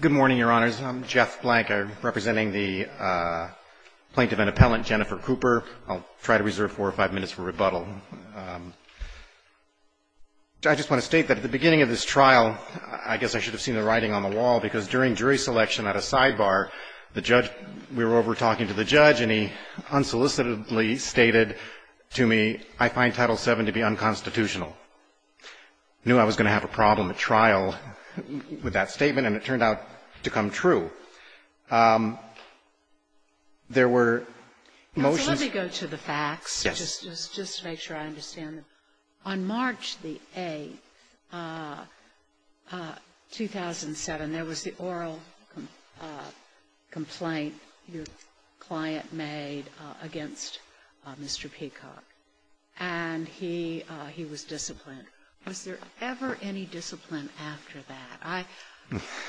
Good morning, Your Honors. I'm Jeff Blank, representing the plaintiff and appellant, Jennifer Cooper. I'll try to reserve four or five minutes for rebuttal. I just want to state that at the beginning of this trial, I guess I should have seen the writing on the wall, because during jury selection at a sidebar, the judge, we were over talking to the judge and he unsolicitedly stated to me, I find Title VII to be unconstitutional. I knew I was going to have a problem at trial with that statement. I found that statement, and it turned out to come true. There were motions to go to the facts. Yes. Just to make sure I understand. On March the 8th, 2007, there was the oral complaint your client made against Mr. Peacock, and he was disciplined. Was there ever any discipline after that?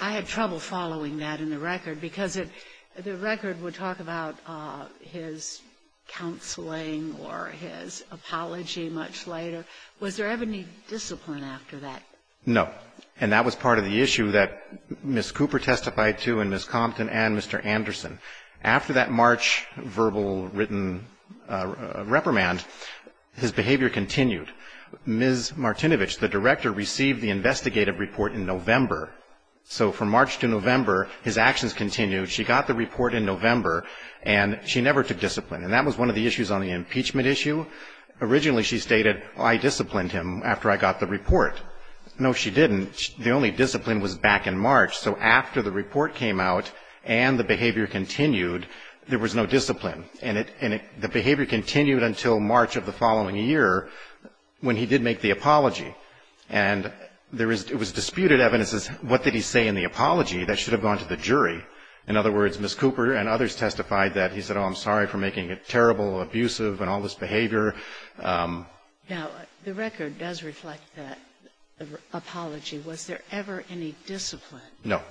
I had trouble following that in the record, because the record would talk about his counseling or his apology much later. Was there ever any discipline after that? No. And that was part of the issue that Ms. Cooper testified to and Ms. Compton and Mr. Anderson. After that March verbal written reprimand, his behavior continued. Ms. Martinovich, the director, received the investigative report in November. So from March to November, his actions continued. She got the report in November, and she never took discipline. And that was one of the issues on the impeachment issue. Originally, she stated, I disciplined him after I got the report. No, she didn't. The only discipline was back in March. So after the report came out and the behavior continued, there was no discipline. And the behavior continued until March of the following year when he did make the apology. And there was disputed evidence as to what did he say in the apology that should have gone to the jury. In other words, Ms. Cooper and others testified that he said, oh, I'm sorry for making it terrible, abusive, and all this behavior. Now, the record does reflect that apology. Was there ever any discipline? No.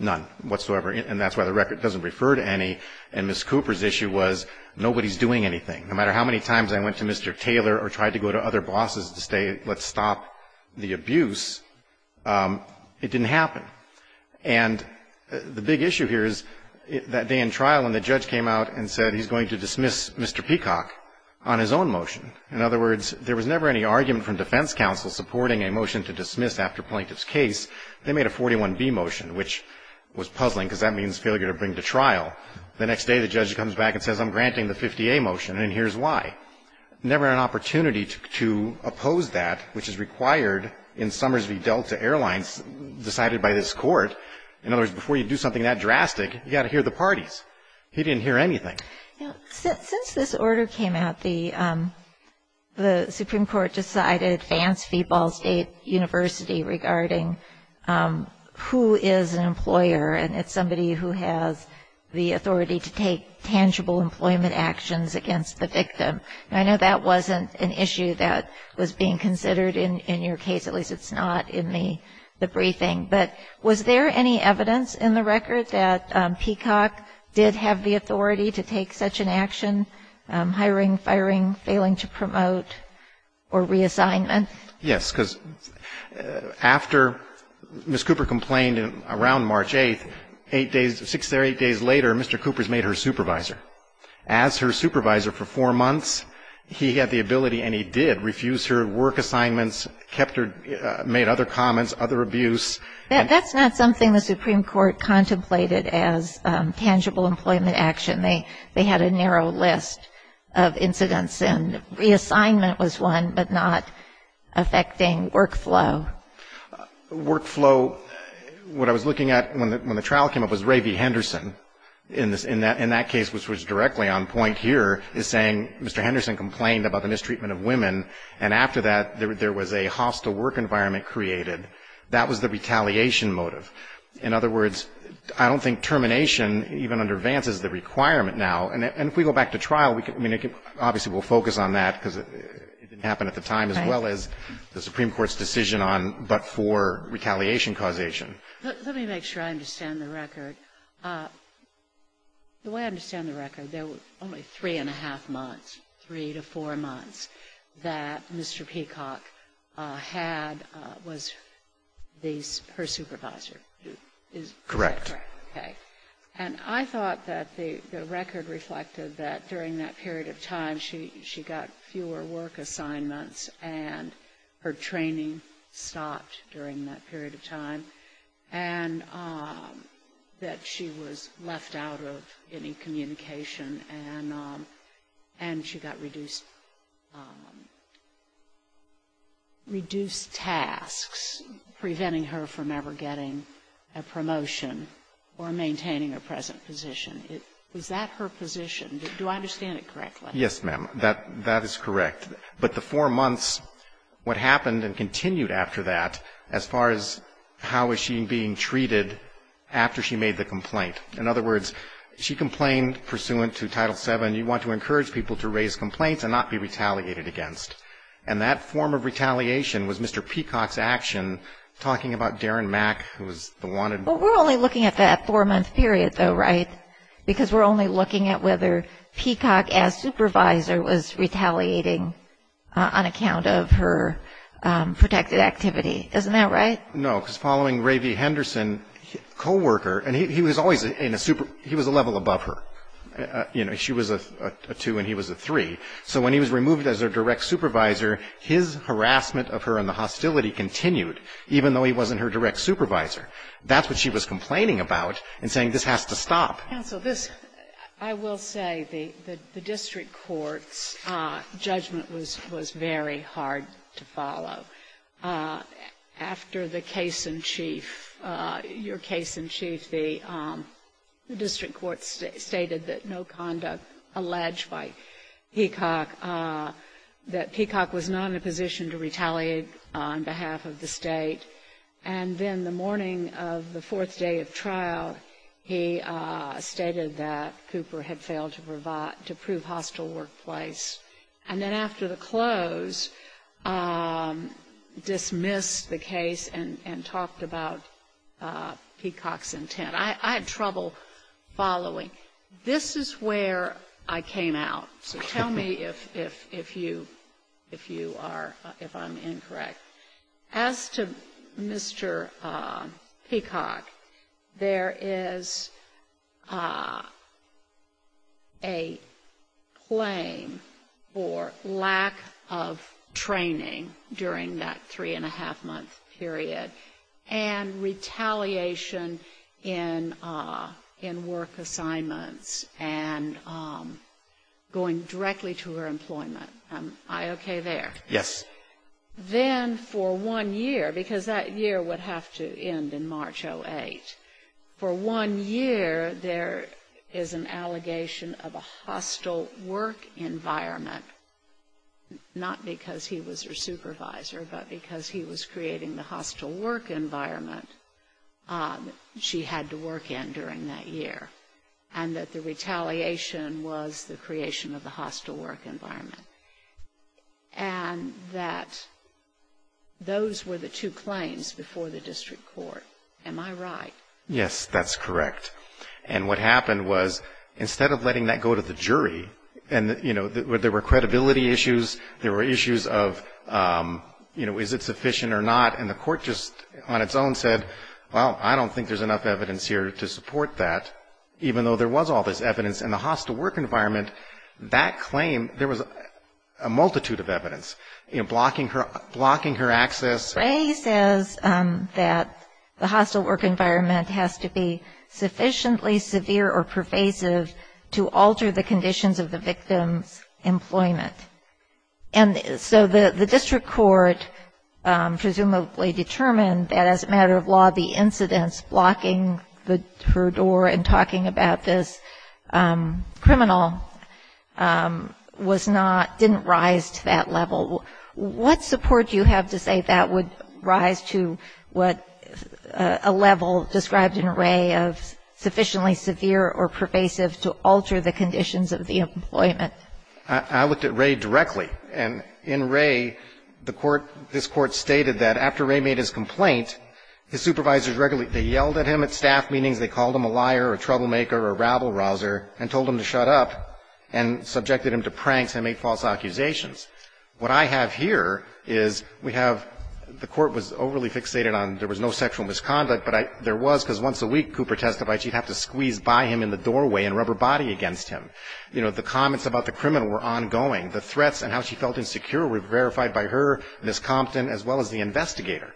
None whatsoever. And that's why the record doesn't refer to any. And Ms. Cooper's issue was, nobody's doing anything. No matter how many times I went to Mr. Taylor or tried to go to other bosses to say, let's stop the abuse, it didn't happen. And the big issue here is that day in trial when the judge came out and said he's going to dismiss Mr. Peacock on his own motion. In other words, there was never any argument from defense counsel supporting a motion to dismiss after plaintiff's case. They made a 41B motion, which was puzzling because that means failure to bring to trial. The next day, the judge comes back and says, I'm granting the 50A motion, and here's why. Never an opportunity to oppose that, which is required in Summers v. Delta Airlines decided by this court. In other words, before you do something that drastic, you've got to hear the parties. He didn't hear anything. Now, since this order came out, the Supreme Court decided Vance v. Ball State University regarding who is an employer, and it's somebody who has the authority to take tangible employment actions against the victim. I know that wasn't an issue that was being considered in your case, at least it's not in the briefing. But was there any evidence in the record that Peacock did have the authority to take such an action? Hiring, firing, failing to promote or reassignment? Yes, because after Ms. Cooper complained around March 8th, eight days, six or eight days later, Mr. Cooper has made her supervisor. As her supervisor for four months, he had the ability, and he did, refuse her work assignments, kept her, made other comments, other abuse. That's not something the Supreme Court contemplated as tangible employment action. They had a working relationship, affecting workflow. Workflow, what I was looking at when the trial came up was Ray V. Henderson. In that case, which was directly on point here, is saying Mr. Henderson complained about the mistreatment of women, and after that, there was a hostile work environment created. That was the retaliation motive. In other words, I don't think termination, even under Vance, is the requirement now. And if we go back to trial, I mean, obviously we'll focus on that, because it didn't happen at the time, as well as the Supreme Court's decision on but for retaliation causation. Let me make sure I understand the record. The way I understand the record, there were only three-and-a-half months, three to four months, that Mr. Peacock had, was her supervisor, is that correct? Correct. Okay. And I thought that the record reflected that during that period of time, she got fewer work assignments, and she had fewer work assignments. And her training stopped during that period of time, and that she was left out of any communication, and she got reduced, reduced tasks, preventing her from ever getting a promotion or maintaining her present position. Was that her position? Do I understand it correctly? Yes, ma'am. That is correct. But the four-month period that she was in was the period in which, in those four months, what happened and continued after that, as far as how was she being treated after she made the complaint. In other words, she complained pursuant to Title VII, you want to encourage people to raise complaints and not be retaliated against. And that form of retaliation was Mr. Peacock's action, talking about Darren Mack, who was the wanted man. Well, we're only looking at that four-month period, though, right? Because we're only looking at whether Peacock, as supervisor, was retaliating on account of her protected activity. Isn't that right? No, because following Ray V. Henderson, co-worker, and he was always in a super – he was a level above her. You know, she was a two and he was a three. So when he was removed as her direct supervisor, his harassment of her and the hostility continued, even though he wasn't her direct supervisor. That's what she was complaining about, and saying this has to stop. Counsel, this – I will say the district court's judgment was very hard to follow. After the case in chief, your case in chief, the district court stated that no conduct alleged by Peacock, that Peacock was not in a position to retaliate on behalf of the district court. It stated that Cooper had failed to provide – to prove hostile workplace. And then after the close, dismissed the case and talked about Peacock's intent. I had trouble following. This is where I came out. So tell me if you are – if I'm incorrect. As to Mr. Peacock, there is a claim for lack of training during that three-and-a-half-month period, and retaliation in work assignments, and going directly to her employment. Am I okay there? Yes. Then for one year, because that year would have to end in March 08, for one year there is an allegation of a hostile work environment, not because he was her supervisor, but because he was creating the hostile work environment she had to work in during that year, and that the retaliation was the creation of the hostile work environment. And that those were the two claims before the district court. Am I right? Yes, that's correct. And what happened was, instead of letting that go to the jury, and you know, there were credibility issues, there were issues of, you know, is it sufficient or not, and the court just on its own said, well, I don't think there's enough evidence here to support that, even though there was all this evidence in the hostile work environment, that claim, there was a multitude of evidence, you know, blocking her access. Gray says that the hostile work environment has to be sufficiently severe or pervasive to alter the conditions of the victim's employment. And so the district court presumably determined that as a matter of law, the incidents blocking her door and talking about this criminal was not, didn't rise to that level. What support do you have to say that would rise to what a level described in Ray of sufficiently severe or pervasive to alter the conditions of the employment? I looked at Ray directly. And in Ray, the court, this Court stated that after Ray made his complaint, his supervisors regularly, they yelled at him at staff meetings, they called him a liar or a troublemaker or a rabble-rouser and told him to shut up and subjected him to pranks and made false accusations. What I have here is we have, the Court was overly fixated on, there was no sexual misconduct, but there was, because once a week, Cooper testified, she'd have to squeeze by him in the doorway and rub her body against him. You know, the comments about the criminal were ongoing. The threats and how she felt insecure were verified by her, Ms. Compton, as well as the investigator.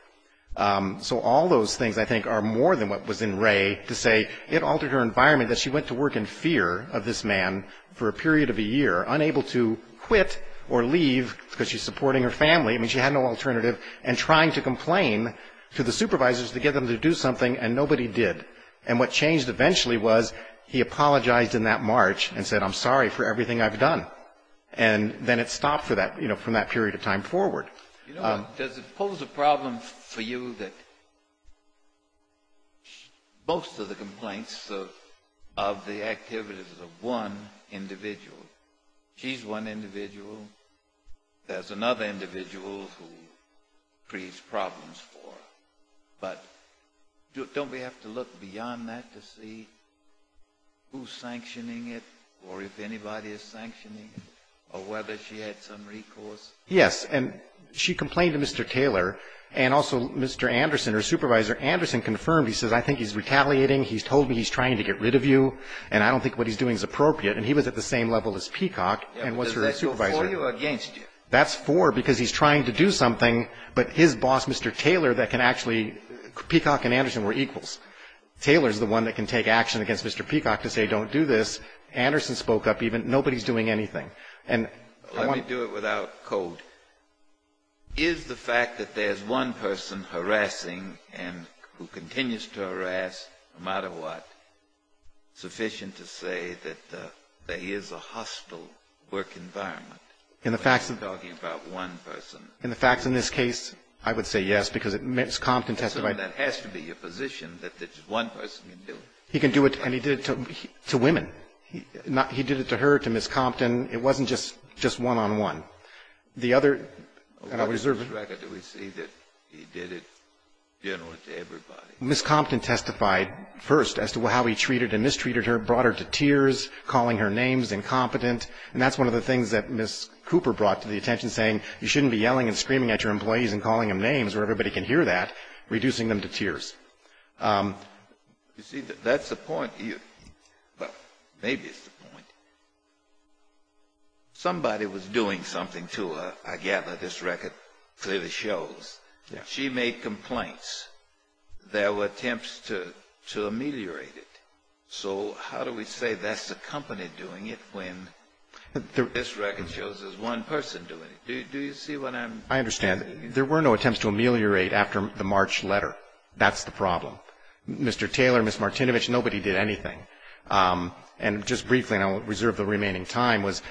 So all those things, I think, are more than what was in Ray to say it altered her environment, that she went to work in fear of this man for a period of a year, unable to quit or leave because she's supporting her family, I mean, she had no alternative, and trying to complain to the supervisors to get them to do something, and nobody did. And what changed eventually was he apologized in that March and said, I'm sorry for everything I've done. And then it stopped for that, you know, from that period of time forward. You know, does it pose a problem for you that most of the complaints of the activities of one individual, she's one individual, there's another individual who creates problems for her, but don't we have to look beyond that to see who's sanctioning it or if anybody is sanctioning it, or whether she had some recourse? Yes. And she complained to Mr. Taylor, and also Mr. Anderson, her supervisor, Anderson confirmed. He says, I think he's retaliating. He's told me he's trying to get rid of you, and I don't think what he's doing is appropriate. And he was at the same level as Peacock and was her supervisor. Does that go for you or against you? That's for because he's trying to do something, but his boss, Mr. Taylor, that can actually Peacock and Anderson were equals. Taylor's the one that can take action against Mr. Peacock to say don't do this. Anderson spoke up even. Nobody's doing anything. Let me do it without code. Is the fact that there's one person harassing and who continues to harass no matter what sufficient to say that there is a hostile work environment? When you're talking about one person. In the facts in this case, I would say yes, because Ms. Compton testified. That has to be your position that there's one person who can do it. He can do it, and he did it to women. He did it to her, to Ms. Compton. It wasn't just one-on-one. The other, and I reserve it. What is his record? Do we see that he did it generally to everybody? Ms. Compton testified first as to how he treated and mistreated her, brought her to tears, calling her names, incompetent. And that's one of the things that Ms. Cooper brought to the attention, saying you shouldn't be yelling and screaming at your employees and calling them names where everybody can hear that, reducing them to tears. You see, that's the point. Well, maybe it's the point. Somebody was doing something to her. I gather this record clearly shows. She made complaints. There were attempts to ameliorate it. So how do we say that's the company doing it when this record shows there's one person doing it? Do you see what I'm saying? I understand. There were no attempts to ameliorate after the March letter. That's the problem. Mr. Taylor, Ms. Martinovich, nobody did anything. And just briefly, and I'll reserve the remaining time, was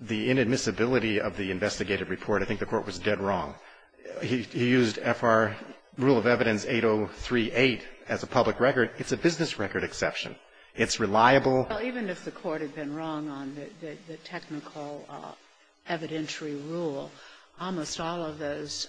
the inadmissibility of the investigative report. I think the Court was dead wrong. He used F.R. Rule of Evidence 8038 as a public record. It's a business record exception. It's reliable. Even if the Court had been wrong on the technical evidentiary rule, almost all of those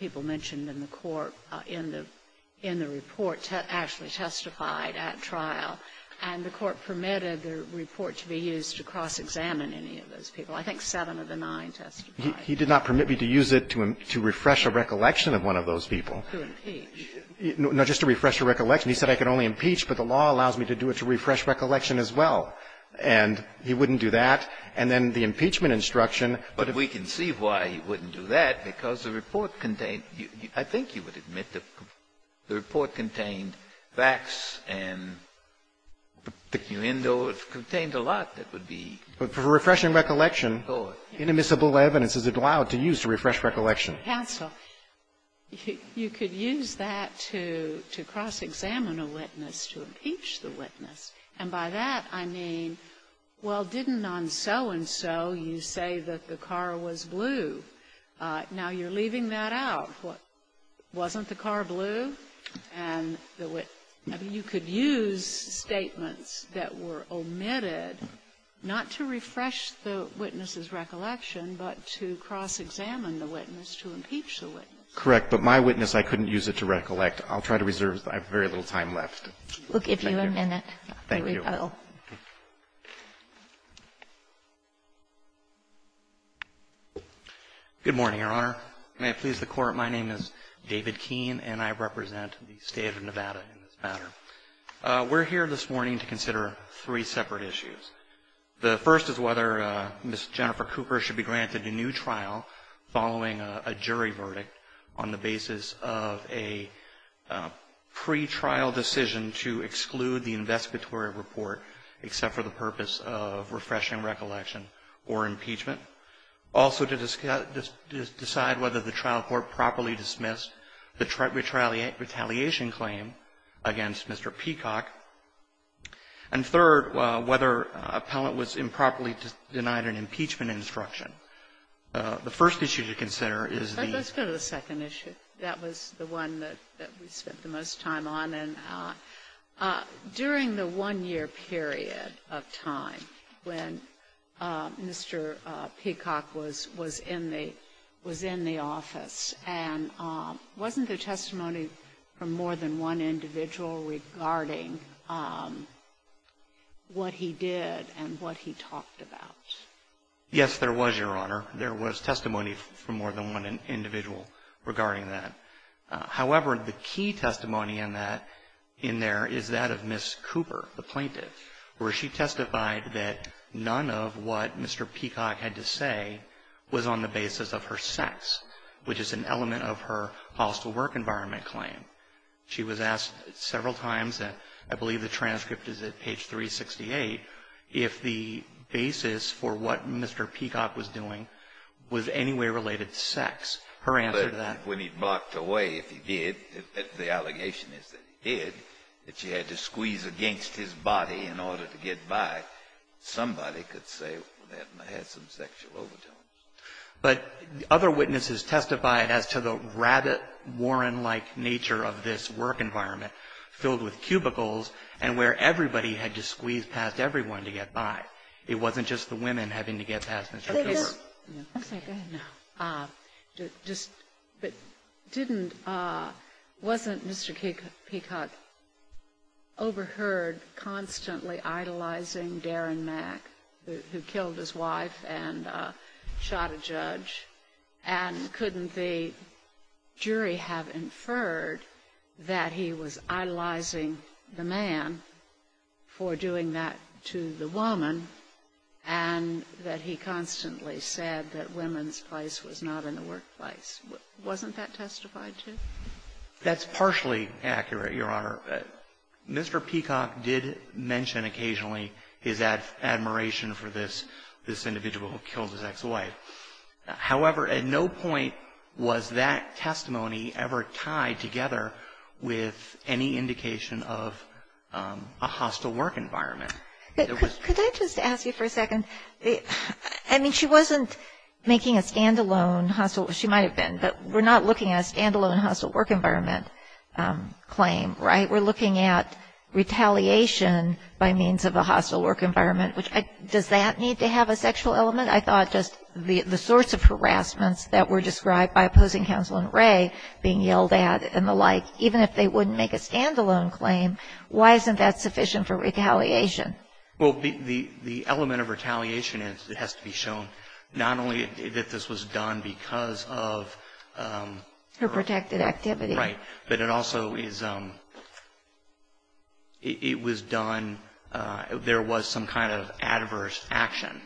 people mentioned in the Court in the report actually testified at trial, and the Court permitted the report to be used to cross-examine any of those people. I think seven of the nine testified. He did not permit me to use it to refresh a recollection of one of those people. To impeach. No, just to refresh a recollection. He said I could only impeach, but the law allows me to do it to refresh recollection as well. And he wouldn't do that. And then the impeachment instruction. But we can see why he wouldn't do that, because the report contained, I think you would admit, the report contained facts and, you know, it contained a lot that would be. But for refreshing recollection, inadmissible evidence is allowed to use to refresh recollection. Sotomayor's counsel, you could use that to cross-examine a witness, to impeach the witness. And by that, I mean, well, didn't on so-and-so you say that the car was blue? Now you're leaving that out. Wasn't the car blue? And you could use statements that were omitted not to refresh the witness's recollection. Correct. But my witness, I couldn't use it to recollect. I'll try to reserve. I have very little time left. Thank you. We'll give you a minute. Thank you. Good morning, Your Honor. May it please the Court. My name is David Keene, and I represent the State of Nevada in this matter. We're here this morning to consider three separate issues. The first is whether Ms. Jennifer Cooper should be granted a new trial following a jury verdict on the basis of a pretrial decision to exclude the investigatory report, except for the purpose of refreshing recollection or impeachment. Also, to decide whether the trial court properly dismissed the retaliation claim against Mr. Peacock. And third, whether an appellant was improperly denied an impeachment instruction. The first issue to consider is the ---- Let's go to the second issue. That was the one that we spent the most time on. And during the one-year period of time when Mr. Peacock was in the office, and wasn't from more than one individual regarding what he did and what he talked about. Yes, there was, Your Honor. There was testimony from more than one individual regarding that. However, the key testimony in that, in there, is that of Ms. Cooper, the plaintiff, where she testified that none of what Mr. Peacock had to say was on the basis of her sex, which is an element of her hostile work environment claim. She was asked several times, and I believe the transcript is at page 368, if the basis for what Mr. Peacock was doing was any way related to sex. Her answer to that ---- But when he blocked away, if he did, the allegation is that he did, that she had to squeeze against his body in order to get by, somebody could say, well, that had some sexual overtones. But other witnesses testified as to the rabbit-Warren-like nature of this work environment filled with cubicles and where everybody had to squeeze past everyone to get by. It wasn't just the women having to get past Mr. Cooper. I'm sorry, go ahead now. Just ---- but didn't ---- wasn't Mr. Peacock overheard constantly idolizing who killed his wife and shot a judge? And couldn't the jury have inferred that he was idolizing the man for doing that to the woman, and that he constantly said that women's place was not in the workplace? Wasn't that testified to? That's partially accurate, Your Honor. Mr. Peacock did mention occasionally his admiration for this individual who killed his ex-wife. However, at no point was that testimony ever tied together with any indication of a hostile work environment. Could I just ask you for a second? I mean, she wasn't making a stand-alone hostile, she might have been, but we're not looking at a stand-alone hostile work environment claim, right? We're looking at retaliation by means of a hostile work environment. Does that need to have a sexual element? I thought just the sorts of harassments that were described by opposing counsel and Ray being yelled at and the like, even if they wouldn't make a stand-alone claim, why isn't that sufficient for retaliation? Well, the element of retaliation has to be shown not only that this was done because of Her protected activity. Right, but it also is, it was done, there was some kind of adverse action.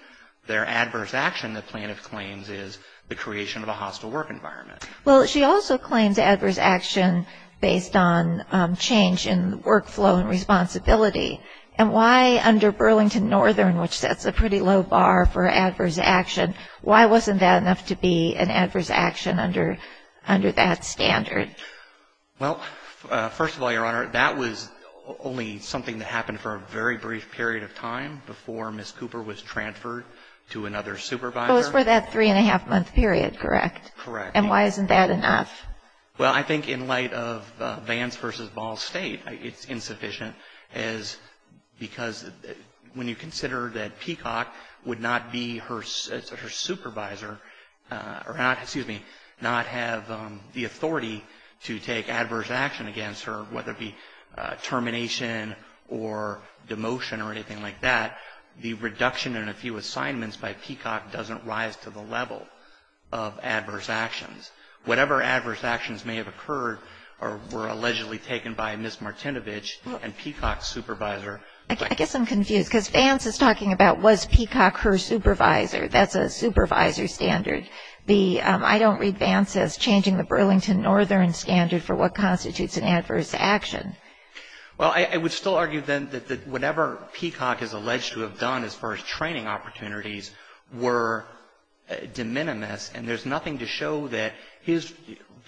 Their adverse action, the plaintiff claims, is the creation of a hostile work environment. Well, she also claims adverse action based on change in workflow and responsibility. And why under Burlington Northern, which sets a pretty low bar for adverse action, why wasn't that enough to be an adverse action under that standard? Well, first of all, Your Honor, that was only something that happened for a very brief period of time before Ms. Cooper was transferred to another supervisor. So it was for that three-and-a-half-month period, correct? Correct. And why isn't that enough? Well, I think in light of Vance v. Ball State, it's insufficient because when you consider that Peacock would not be her supervisor or not have the authority to take adverse action against her, whether it be termination or demotion or anything like that, the reduction in a few assignments by Peacock doesn't rise to the level of adverse actions. Whatever adverse actions may have occurred or were allegedly taken by Ms. Martinovich and Peacock's supervisor. I guess I'm confused because Vance is talking about was Peacock her supervisor. That's a supervisor standard. I don't read Vance as changing the Burlington Northern standard for what constitutes an adverse action. Well, I would still argue then that whatever Peacock is alleged to have done as far as training opportunities were de minimis and there's nothing to show that his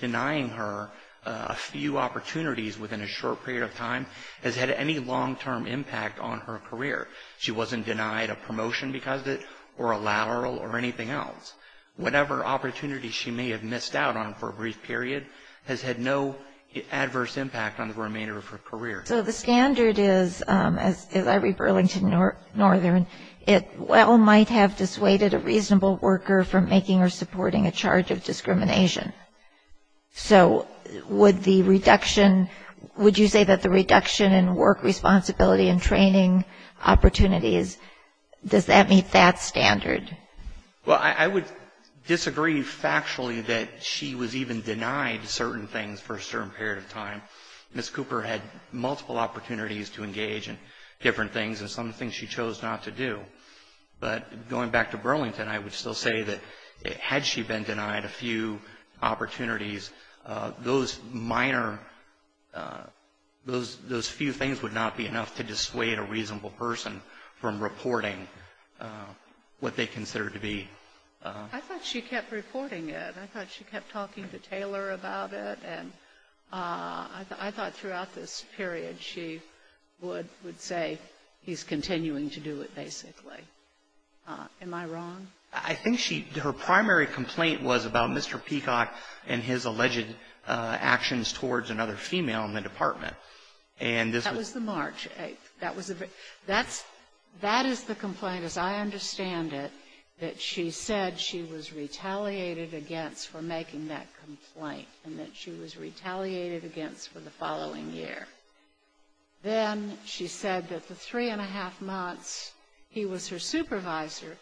denying her a few opportunities within a short period of time has had any long-term impact on her career. She wasn't denied a promotion because of it or a lateral or anything else. Whatever opportunity she may have missed out on for a brief period has had no adverse impact on the remainder of her career. So the standard is, as I read Burlington Northern, it well might have dissuaded a reasonable worker from making or supporting a charge of discrimination. So would the reduction, would you say that the reduction in work responsibility and training opportunities, does that meet that standard? Well, I would disagree factually that she was even denied certain things for a certain period of time. Ms. Cooper had multiple opportunities to engage in different things and some things she chose not to do. But going back to Burlington, I would still say that had she been denied a few opportunities, those minor, those few things would not be enough to dissuade a reasonable person from reporting what they consider to be. I thought she kept reporting it. I thought she kept talking to Taylor about it. And I thought throughout this period she would say he's continuing to do it basically. Am I wrong? I think she, her primary complaint was about Mr. Peacock and his alleged actions towards another female in the department. And this was That was the March 8th. That's, that is the complaint as I understand it, that she said she was retaliated against for making that complaint and that she was retaliated against for the following year. Then she said that the three and a half months he was her supervisor,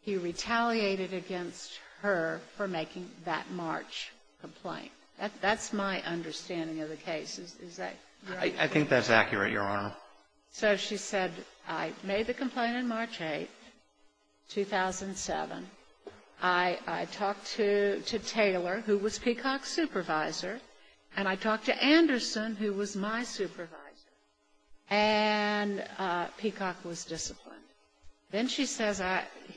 he retaliated against her for making that March complaint. That's my understanding of the case. Is that right? I think that's accurate, Your Honor. So she said, I made the complaint on March 8th, 2007. I talked to Taylor, who was Peacock's supervisor, and I talked to Anderson, who was my supervisor. And Peacock was disciplined. Then she says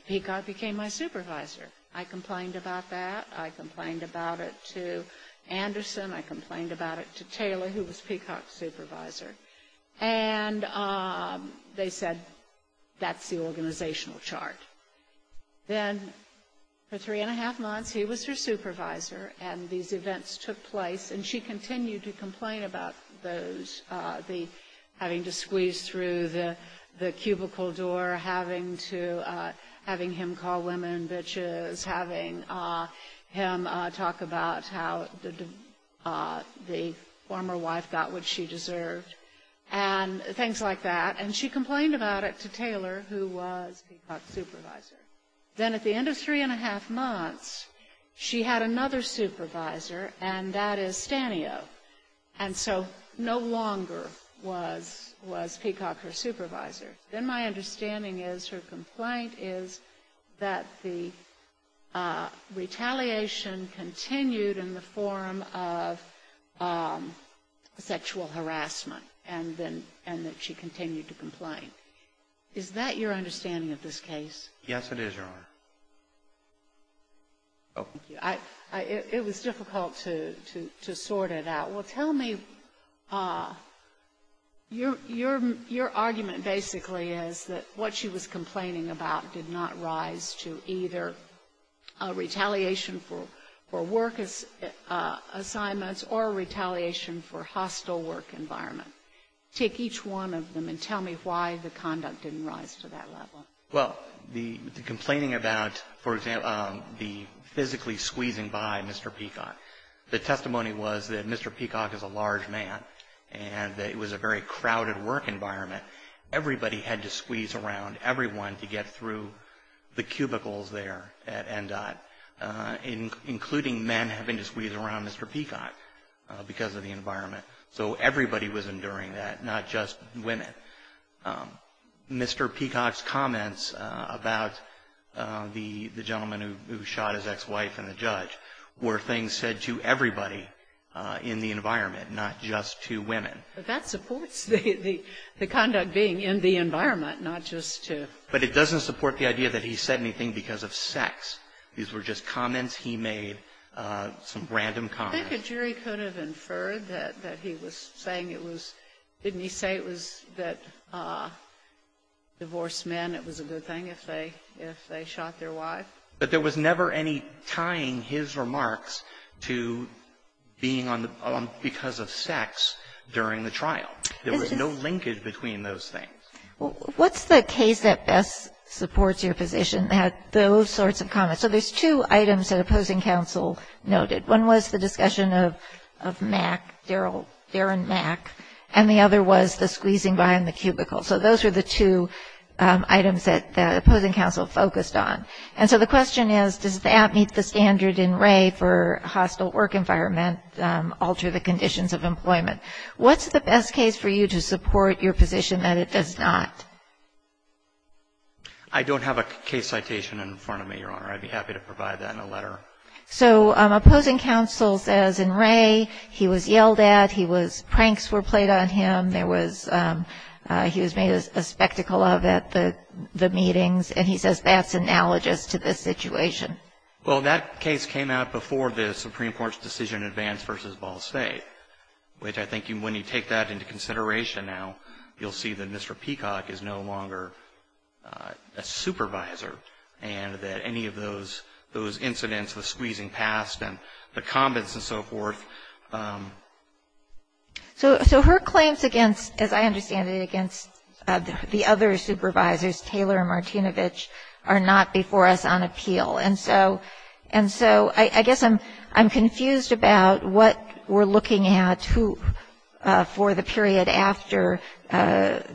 Peacock became my supervisor. I complained about that. I complained about it to Anderson. I complained about it to Taylor, who was Peacock's supervisor. And they said that's the organizational chart. Then for three and a half months, he was her supervisor, and these events took place. And she continued to complain about those, having to squeeze through the cubicle door, having to, having him call women bitches, having him talk about how the former wife got what she deserved, and things like that. And she complained about it to Taylor, who was Peacock's supervisor. Then at the end of three and a half months, she had another supervisor, and that is Stanio. And so no longer was Peacock her supervisor. Then my understanding is her complaint is that the retaliation continued in the form of sexual harassment, and that she continued to complain. Is that your understanding of this case? Yes, it is, Your Honor. Thank you. It was difficult to sort it out. Well, tell me, your argument basically is that what she was complaining about did not rise to either retaliation for work assignments or retaliation for hostile work environment. Take each one of them and tell me why the conduct didn't rise to that level. Well, the complaining about, for example, the physically squeezing by Mr. Peacock, the testimony was that Mr. Peacock is a large man and that it was a very crowded work environment. Everybody had to squeeze around, everyone, to get through the cubicles there at NDOT, including men having to squeeze around Mr. Peacock because of the environment. So everybody was enduring that, not just women. Mr. Peacock's comments about the gentleman who shot his ex-wife and the judge were things said to everybody in the environment, not just to women. But that supports the conduct being in the environment, not just to ---- But it doesn't support the idea that he said anything because of sex. These were just comments he made, some random comments. I think a jury could have inferred that he was saying it was ---- didn't he say it was that divorced men, it was a good thing if they shot their wife? But there was never any tying his remarks to being on the ---- because of sex during the trial. There was no linkage between those things. What's the case that best supports your position that had those sorts of comments? So there's two items that opposing counsel noted. One was the discussion of Mac, Darren Mac, and the other was the squeezing behind the cubicle. So those were the two items that opposing counsel focused on. And so the question is, does that meet the standard in Ray for hostile work environment, alter the conditions of employment? What's the best case for you to support your position that it does not? I don't have a case citation in front of me, Your Honor. I'd be happy to provide that in a letter. So opposing counsel says in Ray he was yelled at, he was ---- pranks were played on him. There was ---- he was made a spectacle of at the meetings. And he says that's analogous to this situation. Well, that case came out before the Supreme Court's decision in Vance v. Ball State, which I think when you take that into consideration now, you'll see that Mr. Peacock is no longer a supervisor and that any of those incidents, the squeezing past and the comments and so forth. So her claims against, as I understand it, against the other supervisors, Taylor and Martinovich, are not before us on appeal. And so I guess I'm confused about what we're looking at for the period after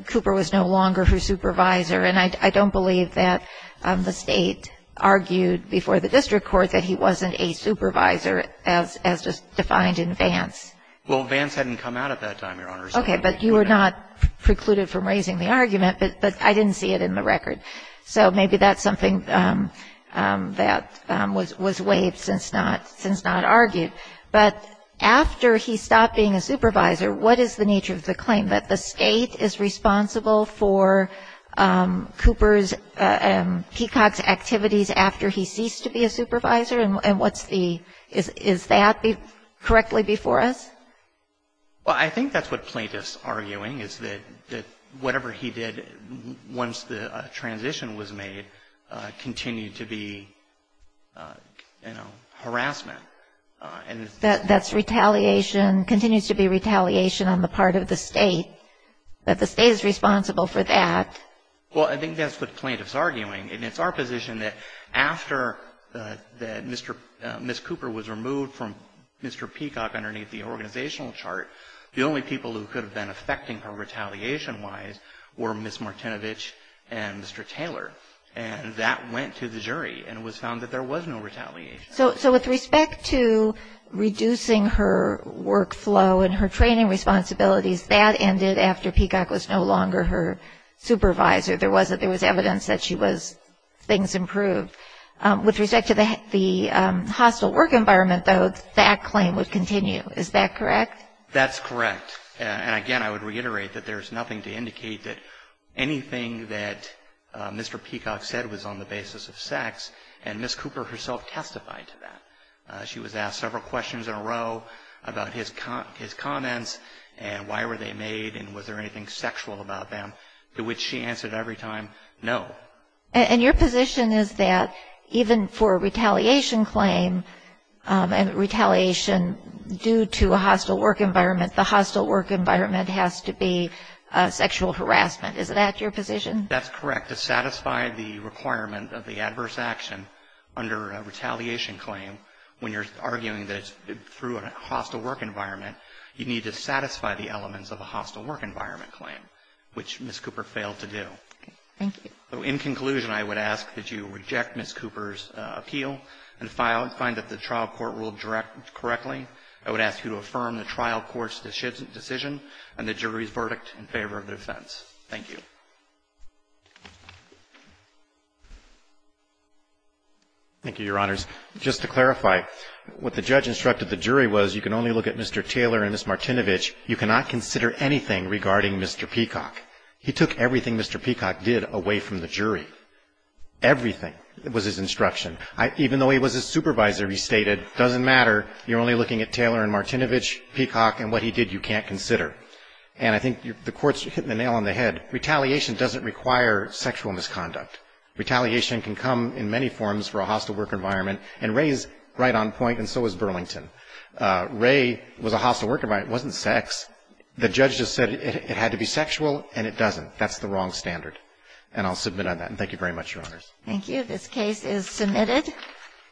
Cooper was no longer her supervisor. And I don't believe that the State argued before the district court that he wasn't a supervisor as just defined in Vance. Well, Vance hadn't come out at that time, Your Honor. Okay, but you were not precluded from raising the argument, but I didn't see it in the record. So maybe that's something that was waived since not argued. But after he stopped being a supervisor, what is the nature of the claim that the State is responsible for Cooper's, Peacock's activities after he ceased to be a supervisor, and what's the, is that correctly before us? Well, I think that's what plaintiffs are arguing, is that whatever he did once the transition was made continued to be, you know, harassment. That's retaliation, continues to be retaliation on the part of the State, that the State is responsible for that. Well, I think that's what plaintiffs are arguing. And it's our position that after Ms. Cooper was removed from Mr. Peacock underneath the organizational chart, the only people who could have been affecting her retaliation-wise were Ms. Martinovich and Mr. Taylor. And that went to the jury, and it was found that there was no retaliation. So with respect to reducing her workflow and her training responsibilities, that ended after Peacock was no longer her supervisor. There was evidence that she was, things improved. With respect to the hostile work environment, though, that claim would continue. Is that correct? That's correct. And again, I would reiterate that there's nothing to indicate that anything that Mr. Peacock said was on the basis of sex, and Ms. Cooper herself testified to that. She was asked several questions in a row about his comments and why were they made and was there anything sexual about them, to which she answered every time, no. And your position is that even for a retaliation claim and retaliation due to a hostile work environment, the hostile work environment has to be sexual harassment. Is that your position? That's correct. To satisfy the requirement of the adverse action under a retaliation claim, when you're arguing that it's through a hostile work environment, you need to satisfy the elements of a hostile work environment claim, which Ms. Cooper failed to do. Thank you. In conclusion, I would ask that you reject Ms. Cooper's appeal and find that the trial court ruled correctly. I would ask you to affirm the trial court's decision and the jury's verdict in favor of the defense. Thank you. Thank you, Your Honors. Just to clarify, what the judge instructed the jury was you can only look at Mr. Taylor and Ms. Martinovich. You cannot consider anything regarding Mr. Peacock. He took everything Mr. Peacock did away from the jury. Everything was his instruction. Even though he was his supervisor, he stated, doesn't matter, you're only looking at Taylor and Martinovich, Peacock, and what he did you can't consider. And I think the court's hitting the nail on the head. Retaliation doesn't require sexual misconduct. Retaliation can come in many forms for a hostile work environment. And Ray's right on point and so is Burlington. Ray was a hostile work environment. It wasn't sex. The judge just said it had to be sexual and it doesn't. That's the wrong standard. And I'll submit on that. And thank you very much, Your Honors. Thank you. This case is submitted.